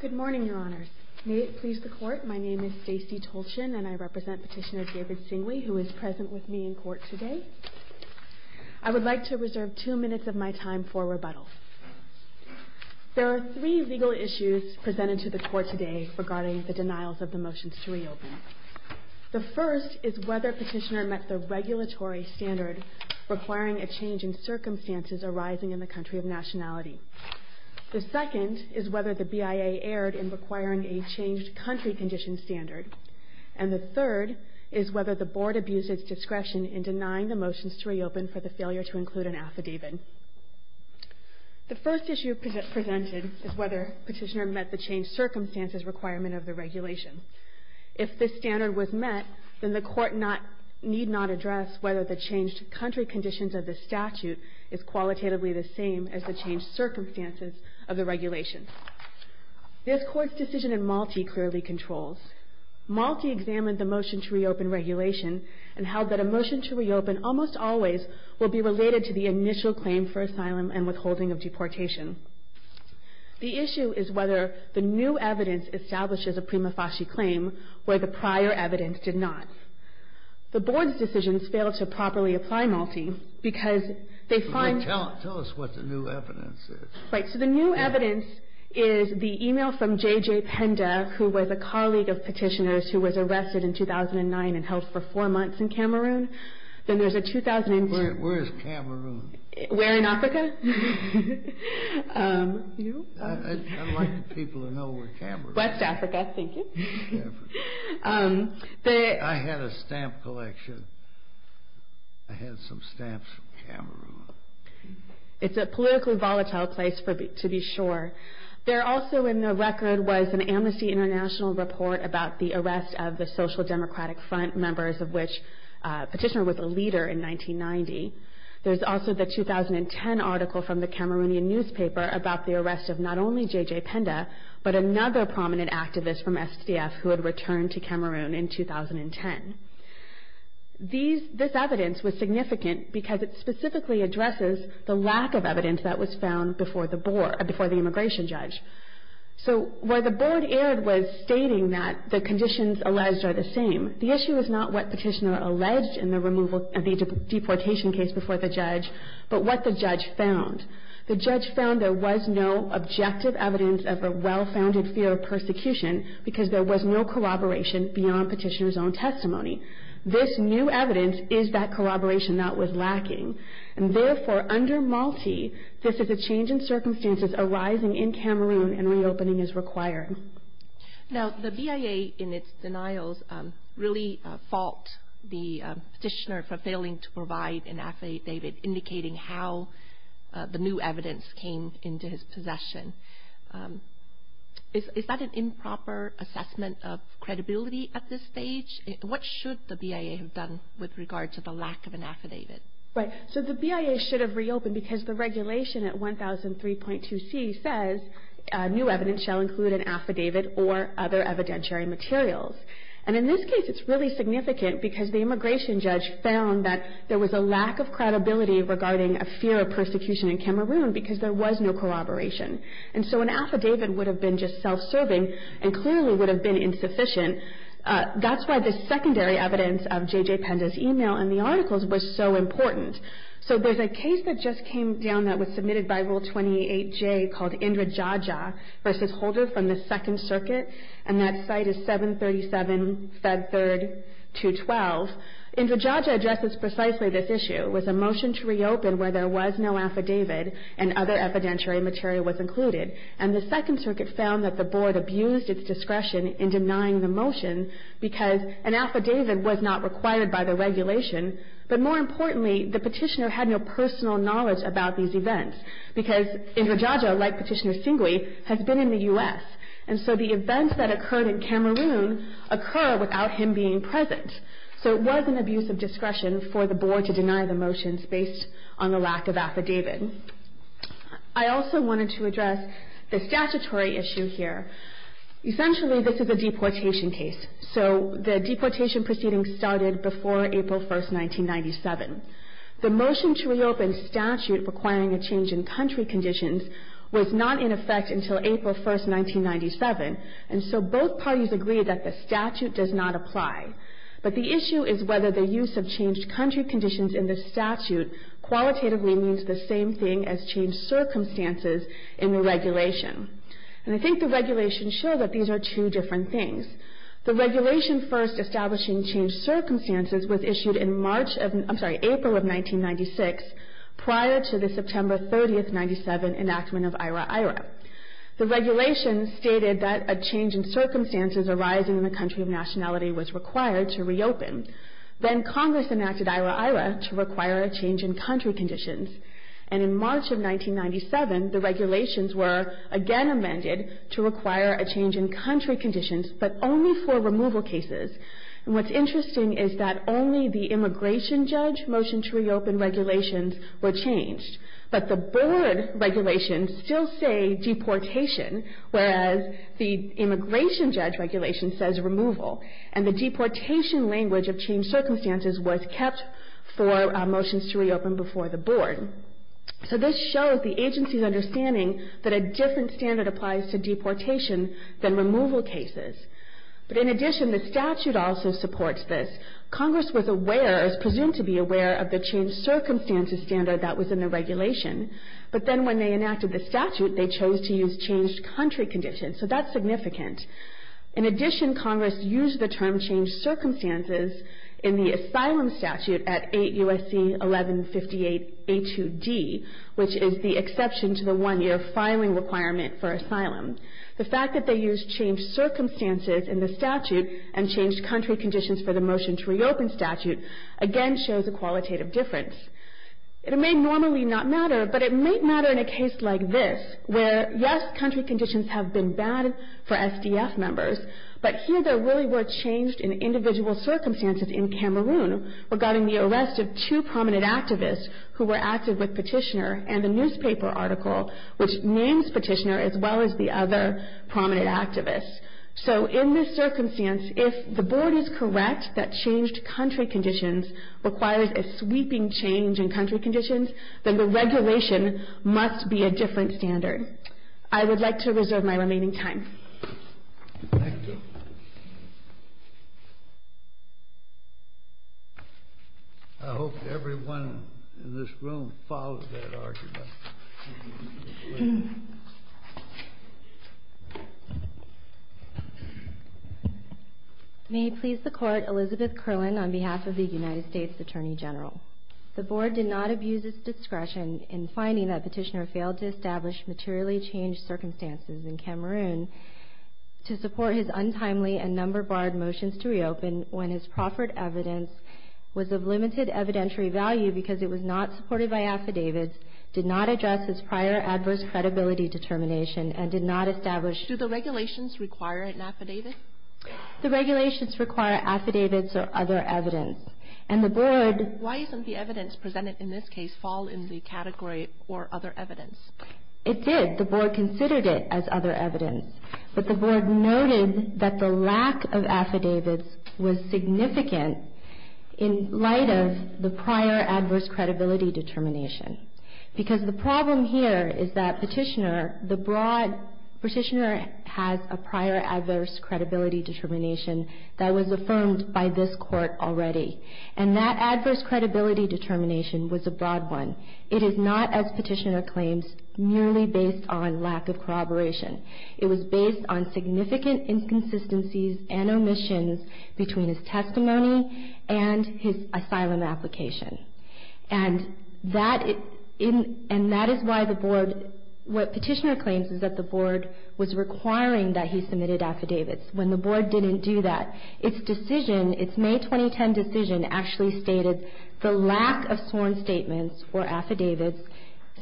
Good morning, Your Honors. May it please the Court, my name is Stacey Tolshin and I represent Petitioner David Singui, who is present with me in court today. I would like to reserve two minutes of my time for rebuttal. There are three legal issues presented to the Court today regarding the denials of the motions to reopen. The first is whether Petitioner met the regulatory standard requiring a change in circumstances arising in the country of the statute. The second is whether the BIA erred in requiring a changed country condition standard. And the third is whether the Board abused its discretion in denying the motions to reopen for the failure to include an affidavit. The first issue presented is whether Petitioner met the changed circumstances requirement of the regulation. If this standard was met, then the Court need not address whether the changed country conditions of the statute is qualitatively the same as the changed circumstances of the regulation. This Court's decision in Malte clearly controls. Malte examined the motion to reopen regulation and held that a motion to reopen almost always will be related to the initial claim for asylum and withholding of deportation. The issue is whether the new evidence establishes a prima facie claim where the prior evidence did not. The Board's decisions failed to establish a new evidence. The new evidence is the email from J.J. Penda, who was a colleague of Petitioner's who was arrested in 2009 and held for four months in Cameroon. Where is Cameroon? We're in Africa. I'd like the people to know where Cameroon is. West Africa, thank you. I had a stamp collection. I had some stamps from Cameroon. I had some from West Africa. It's a politically volatile place to be sure. There also in the record was an Amnesty International report about the arrest of the Social Democratic Front members, of which Petitioner was a leader in 1990. There's also the 2010 article from the Cameroonian newspaper about the arrest of not only J.J. Penda, but another prominent activist from SDF who had returned to Cameroon in 2010. This evidence was significant because it specifically addresses the lack of evidence that was found before the immigration judge. So where the Board erred was stating that the conditions alleged are the same. The issue is not what Petitioner alleged in the deportation case before the judge, but what the judge found. The judge found there was no objective evidence of a well-founded fear of persecution because there was no corroboration beyond Petitioner's own testimony. This new evidence is that corroboration that was lacking. And therefore under Malti, this is a change in circumstances arising in Cameroon and reopening is required. Now the BIA in its denials really fault the Petitioner for failing to provide an affidavit indicating how the new evidence came into his possession. Is that an improper assessment of credibility at this stage? What should the BIA have done with regard to the lack of an affidavit? Right. So the BIA should have reopened because the regulation at 1003.2c says new evidence shall include an affidavit or other evidentiary materials. And in this case it's really significant because the immigration judge found that there was a lack of credibility regarding a fear of persecution in Cameroon because there was no corroboration. And so an affidavit would have been just self-serving and clearly would have been insufficient. That's why the secondary evidence of J.J. Penza's email and the articles was so important. So there's a case that just came down that was submitted by Rule 28J called Indrajaja v. Holder from the Second Circuit. And that site is 737 Fed Third 212. Indrajaja addresses precisely this issue. It was a motion to reopen where there was no affidavit and other evidentiary material was included. And the Second Circuit found that the board abused its discretion in denying the motion because an affidavit was not required by the regulation. But more importantly, the petitioner had no personal knowledge about these events because Indrajaja, like Petitioner Singwe, has been in the U.S. And so the events that occurred in Cameroon occur without him being present. So it was an abuse of discretion for the board to deny the motions based on the lack of affidavit. I also wanted to address the statutory issue here. Essentially, this is a deportation case. So the deportation proceedings started before April 1st, 1997. The motion to reopen statute requiring a change in country conditions was not in effect until April 1st, 1997. And so both parties agreed that the statute does not apply. But the issue is whether the use of changed country conditions in the statute qualitatively means the same thing as changed circumstances in the regulation. And I think the regulation showed that these are two different things. The regulation first establishing changed circumstances was issued in March of, I'm sorry, April of 1996 prior to the September 30th, 1997 enactment of IHRA IHRA. The regulation stated that a change in circumstances arising in the country of Congress enacted IHRA IHRA to require a change in country conditions. And in March of 1997, the regulations were again amended to require a change in country conditions, but only for removal cases. And what's interesting is that only the immigration judge motion to reopen regulations were changed. But the board regulations still say deportation, whereas the immigration judge regulation says removal. And the deportation language of changed circumstances was kept for motions to reopen before the board. So this shows the agency's understanding that a different standard applies to deportation than removal cases. But in addition, the statute also supports this. Congress was aware, is presumed to be aware, of the changed circumstances standard that was in the regulation. But then when they enacted the statute, they chose to use changed country conditions. So that's significant. In addition, Congress used the term changed circumstances in the asylum statute at 8 U.S.C. 1158A2D, which is the exception to the one-year filing requirement for asylum. The fact that they used changed circumstances in the statute and changed country conditions for the motion to reopen statute again shows a qualitative difference. It may normally not matter, but it may matter in a case like this, where yes, country conditions have been bad for SDF members, but here there really were changed in individual circumstances in Cameroon regarding the arrest of two prominent activists who were active with Petitioner and the newspaper article which names Petitioner as well as the other prominent activists. So in this circumstance, if the board is correct that changed country conditions requires a sweeping change in country conditions, then the regulation must be a different standard. I would like to reserve my remaining time. Thank you. I hope everyone in this room follows that argument. May it please the Court, Elizabeth Kerlin on behalf of the United States Attorney General. The board did not abuse its discretion in finding that Petitioner failed to establish materially changed circumstances in Cameroon to support his untimely and number-barred motions to reopen when his proffered evidence was of limited evidentiary value because it was not supported by affidavits, did not address his prior adverse credibility determination, and did not establish Do the regulations require an affidavit? The regulations require affidavits or other evidence. And the board Why isn't the evidence presented in this case fall in the category or other evidence? It did. The board considered it as other evidence. But the board noted that the lack of affidavits was significant in light of the prior adverse credibility determination. Because the problem here is that Petitioner, the broad Petitioner has a prior adverse credibility determination that was affirmed by this Court already. And that adverse credibility determination was a broad one. It is not, as Petitioner claims, merely based on lack of corroboration. It was based on significant inconsistencies and omissions between his testimony and his asylum application. And that is why the board What Petitioner claims is that the board was requiring that he submitted affidavits when the board didn't do that. Its decision, its May 2010 decision actually stated the lack of sworn statements or affidavits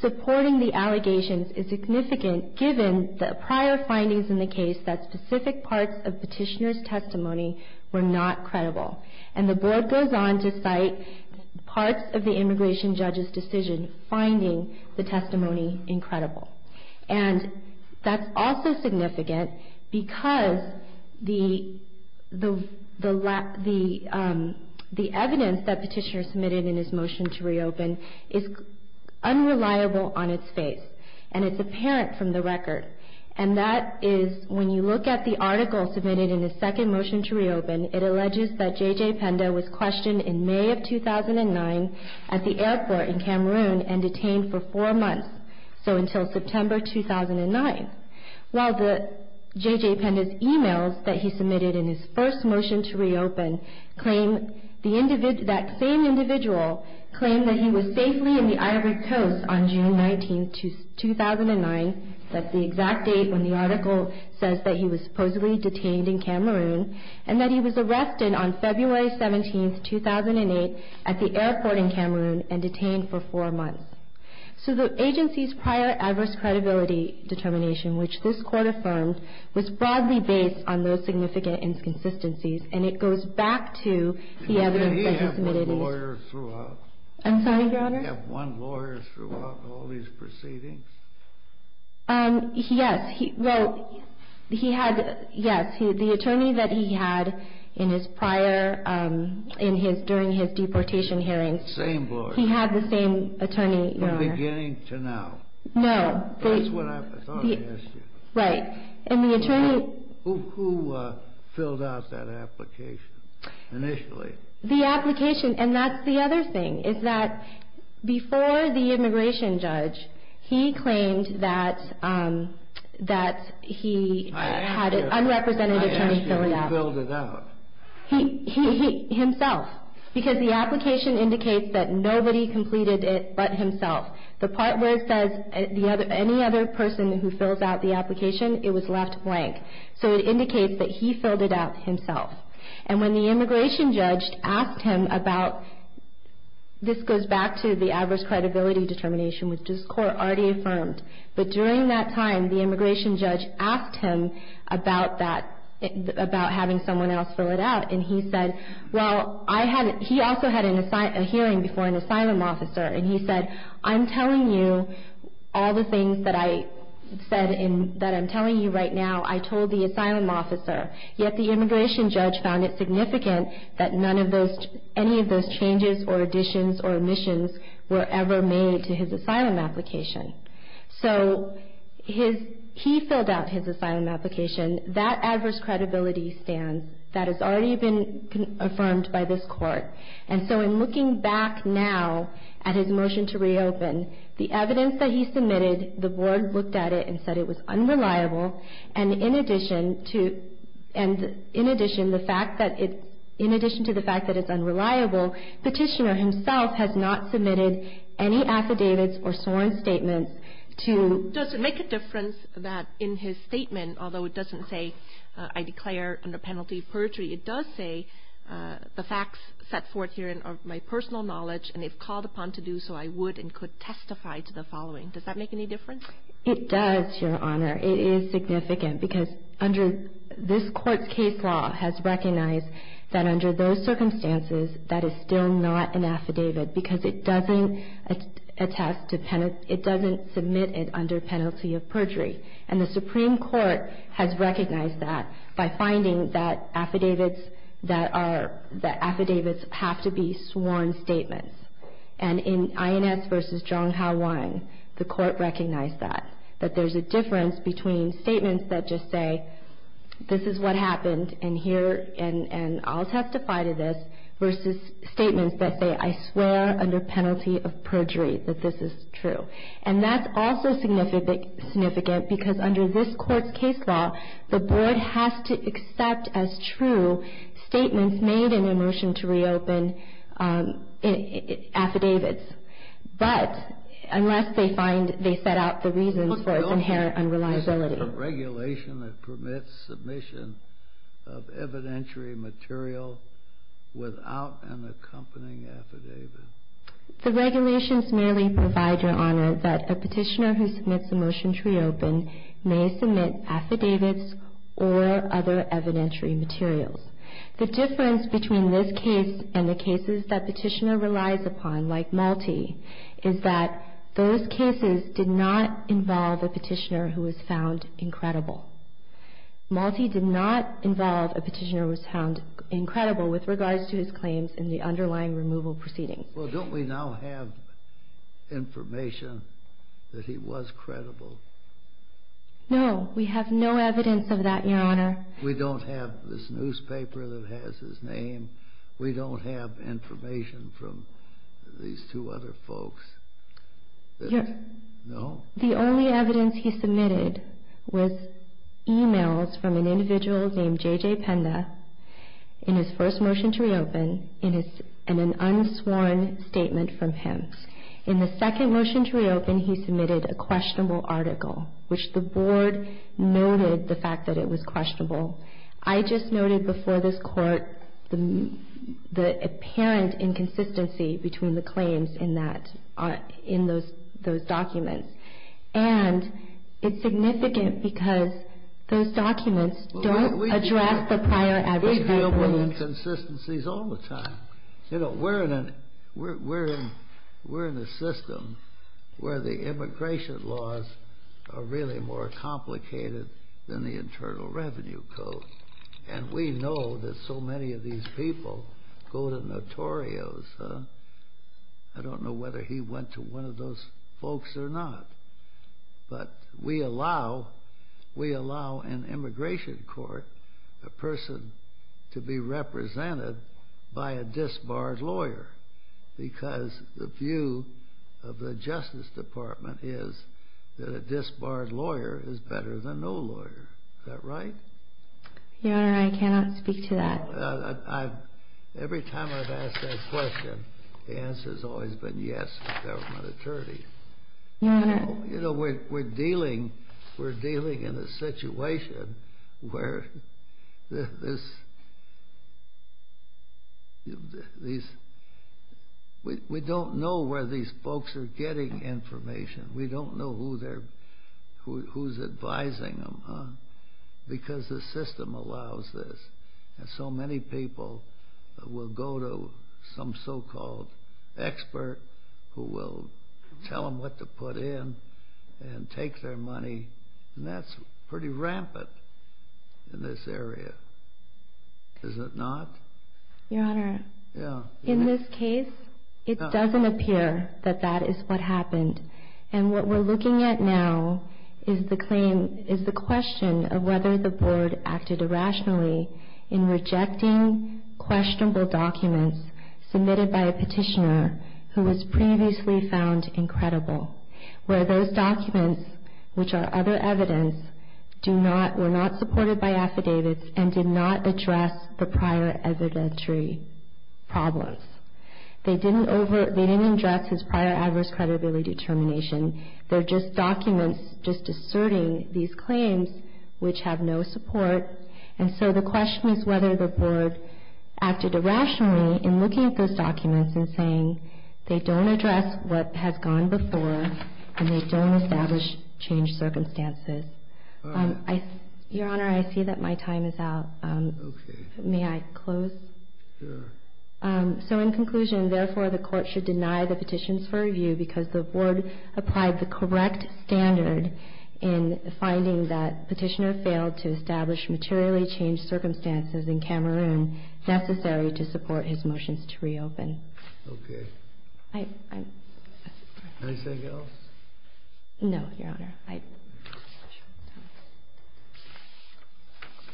supporting the allegations is significant given the prior findings in the case that specific parts of Petitioner's testimony were not credible. And the board goes on to cite parts of the immigration judge's decision finding the testimony incredible. And that's also significant because the evidence that Petitioner submitted in his motion to reopen is unreliable on its face. And it's apparent from the record. And that is when you look at the article submitted in his second motion to reopen, it alleges that J.J. Penda was questioned in May of 2009 at the airport in Cameroon and detained for four months, so until September 2009. While the J.J. Penda's emails that he submitted in his first motion to reopen claim that same individual claimed that he was safely in the Ivory Coast on June 19, 2009 that's the exact date when the article says that he was supposedly detained in Cameroon and that he was arrested on February 17, 2008 at the airport in Cameroon and detained for four months. So the agency's prior adverse credibility determination which this court affirmed was broadly based on those significant inconsistencies and it goes back to the evidence that he submitted in his... Did he have one lawyer throughout? I'm sorry, Your Honor? Did he have one lawyer throughout all these proceedings? Yes. Well, he had, yes. The attorney that he had in his prior, during his deportation hearings Same lawyer? He had the same attorney, Your Honor. From beginning to now? No. That's what I thought I asked you. Right. And the attorney... Who filled out that application initially? The application, and that's the other thing, is that before the immigration judge he claimed that he had an unrepresentative attorney fill it out. I asked you who filled it out. Himself. Because the application indicates that nobody completed it but himself. The part where it says any other person who fills out the application, it was left blank. So it indicates that he filled it out himself. And when the immigration judge asked him about... This goes back to the adverse credibility determination, which this Court already affirmed. But during that time, the immigration judge asked him about having someone else fill it out and he said, well, he also had a hearing before an asylum officer and he said, I'm telling you all the things that I'm telling you right now, I told the asylum officer. Yet the immigration judge found it significant that none of those... any of those changes or additions or omissions were ever made to his asylum application. So he filled out his asylum application. That adverse credibility stands. That has already been affirmed by this Court. And so in looking back now at his motion to reopen, the evidence that he submitted, the Board looked at it and said it was unreliable and in addition to the fact that it's unreliable, Petitioner himself has not submitted any affidavits or sworn statements to... Does it make a difference that in his statement, although it doesn't say I declare under penalty of perjury, it does say the facts set forth here are my personal knowledge and if called upon to do so, I would and could testify to the following. Does that make any difference? It does, Your Honor. It is significant because under this Court's case law has recognized that under those circumstances, that is still not an affidavit because it doesn't attest to... it doesn't submit it under penalty of perjury. And the Supreme Court has recognized that by finding that affidavits that are... that affidavits have to be sworn statements. And in INS v. Zhong Hao Wang, the Court recognized that, that there's a difference between statements that just say this is what happened and here and I'll testify to this versus statements that say I swear under penalty of perjury that this is true. And that's also significant because under this Court's case law, the Board has to accept as true statements made in a motion to reopen affidavits. But unless they find... they set out the reasons for its inherent unreliability. Is it a regulation that permits submission of evidentiary material without an accompanying affidavit? The regulations merely provide, Your Honor, that a petitioner who submits a motion to reopen may submit affidavits or other evidentiary materials. The difference between this case and the cases that petitioner relies upon like Malti is that those cases did not involve a petitioner who was found incredible. Malti did not involve a petitioner who was found incredible with regards to his claims in the underlying removal proceedings. Well, don't we now have information that he was credible? No, we have no evidence of that, Your Honor. We don't have this newspaper that has his name. We don't have information from these two other folks. No? The only evidence he submitted was e-mails from an individual named J.J. Penda in his first motion to reopen and an unsworn statement from him. In the second motion to reopen, he submitted a questionable article, which the Board noted the fact that it was questionable. I just noted before this Court the apparent inconsistency between the claims in those documents. And it's significant because those documents don't address the prior evidence. We deal with inconsistencies all the time. We're in a system where the immigration laws are really more complicated than the Internal Revenue Code. And we know that so many of these people go to Notorio's. I don't know whether he went to one of those folks or not. But we allow an immigration court a person to be represented by a disbarred lawyer because the view of the Justice Department is that a disbarred lawyer is better than no lawyer. Is that right? Your Honor, I cannot speak to that. Every time I've asked that question, the answer has always been yes, a government attorney. We're dealing in a situation where we don't know where these folks are getting information. We don't know who's advising them because the system allows this. And so many people will go to some so-called expert who will tell them what to put in and take their money, and that's pretty rampant in this area. Is it not? Your Honor, in this case, it doesn't appear that that is what happened. And what we're looking at now is the question of whether the Board acted irrationally in rejecting questionable documents submitted by a petitioner who was previously found incredible, where those documents, which are other evidence, were not supported by affidavits and did not address the prior evidentiary problems. They didn't address his prior adverse credibility determination. They're just documents just asserting these claims which have no support. And so the question is whether the Board acted irrationally in looking at those documents and saying they don't address what has gone before and they don't establish changed circumstances. Your Honor, I see that my time is out. May I close? Sure. So in conclusion, therefore, the Court should deny the petitions for review because the Board applied the correct standard in finding that petitioner failed to establish materially changed circumstances in Cameroon necessary to support his motions to reopen. Okay. Anything else? No, Your Honor.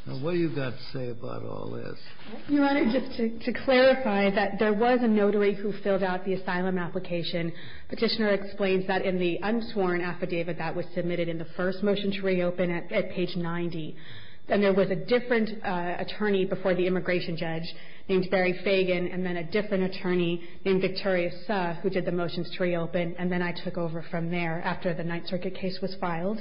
Now, what have you got to say about all this? Your Honor, just to clarify that there was a notary who filled out the asylum application. Petitioner explains that in the unsworn affidavit that was submitted in the first motion to reopen at page 90, that there was a different attorney before the immigration judge named Barry Fagan and then a different attorney named Victoria Suh who did the motions to reopen, and then I took over from there after the Ninth Circuit case was filed.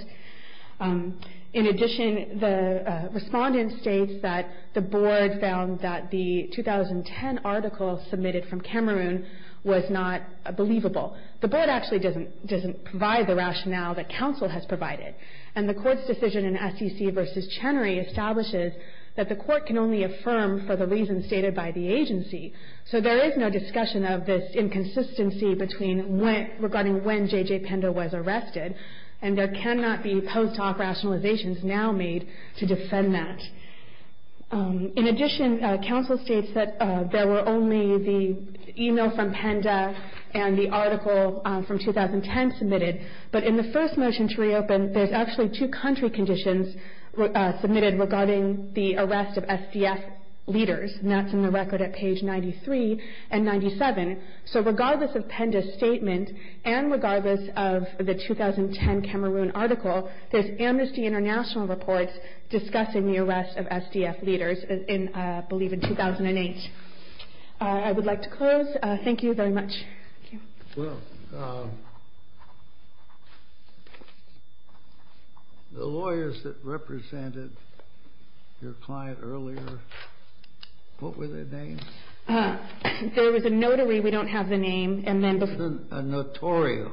In addition, the respondent states that the Board found that the 2010 article submitted from Cameroon was not believable. The Board actually doesn't provide the rationale that counsel has provided, and the Court's decision in SEC v. Chenery establishes that the Court can only affirm for the reasons stated by the agency. So there is no discussion of this inconsistency regarding when J.J. Pender was arrested, and there cannot be post hoc rationalizations now made to defend that. In addition, counsel states that there were only the email from Pender and the article from 2010 submitted, but in the first motion to reopen, there's actually two country conditions submitted regarding the arrest of SCF leaders, and that's in the record at page 93 and 97. So regardless of Pender's statement and regardless of the 2010 Cameroon article, there's Amnesty International reports discussing the arrest of SCF leaders, I believe, in 2008. I would like to close. Thank you very much. Thank you. Well, the lawyers that represented your client earlier, what were their names? There was a notary. We don't have the name. A notario.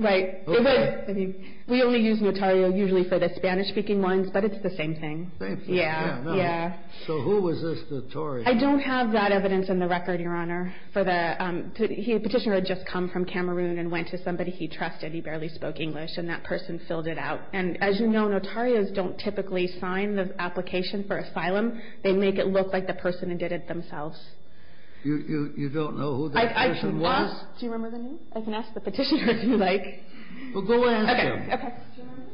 Right. We only use notario usually for the Spanish-speaking ones, but it's the same thing. Yeah. So who was this notario? I don't have that evidence in the record, Your Honor. The petitioner had just come from Cameroon and went to somebody he trusted. He barely spoke English, and that person filled it out. And as you know, notarios don't typically sign the application for asylum. They make it look like the person did it themselves. You don't know who that person was? Do you remember the name? I can ask the petitioner if you like. Well, go ask him. Okay. Okay. Do you remember?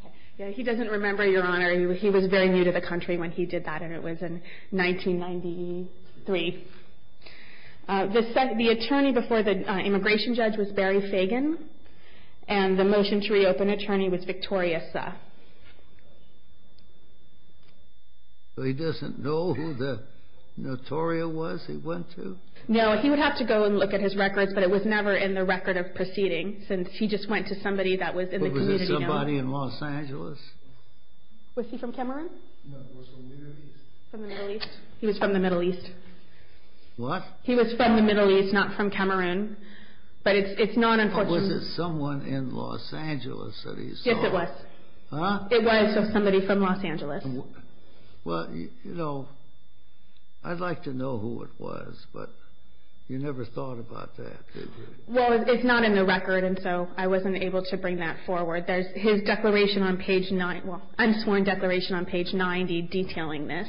Okay. Yeah, he doesn't remember, Your Honor. He was very new to the country when he did that, and it was in 1993. The attorney before the immigration judge was Barry Fagan, and the motion to reopen attorney was Victoria Sa. So he doesn't know who the notario was he went to? No. He would have to go and look at his records, but it was never in the record of proceeding since he just went to somebody that was in the community. Was it somebody in Los Angeles? Was he from Cameroon? No, he was from the Middle East. From the Middle East. He was from the Middle East. What? He was from the Middle East, not from Cameroon. But it's not unfortunate. But was it someone in Los Angeles that he saw? Yes, it was. Huh? It was just somebody from Los Angeles. Well, you know, I'd like to know who it was, but you never thought about that, did you? Well, it's not in the record, and so I wasn't able to bring that forward. There's his declaration on page 90, unsworn declaration on page 90 detailing this.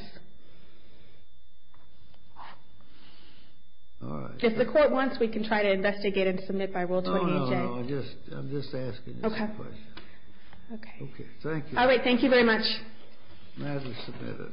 All right. If the court wants, we can try to investigate and submit by Rule 28A. No, no, no. I'm just asking this question. Okay. Okay. Thank you. All right. Thank you very much. Madam Submitter.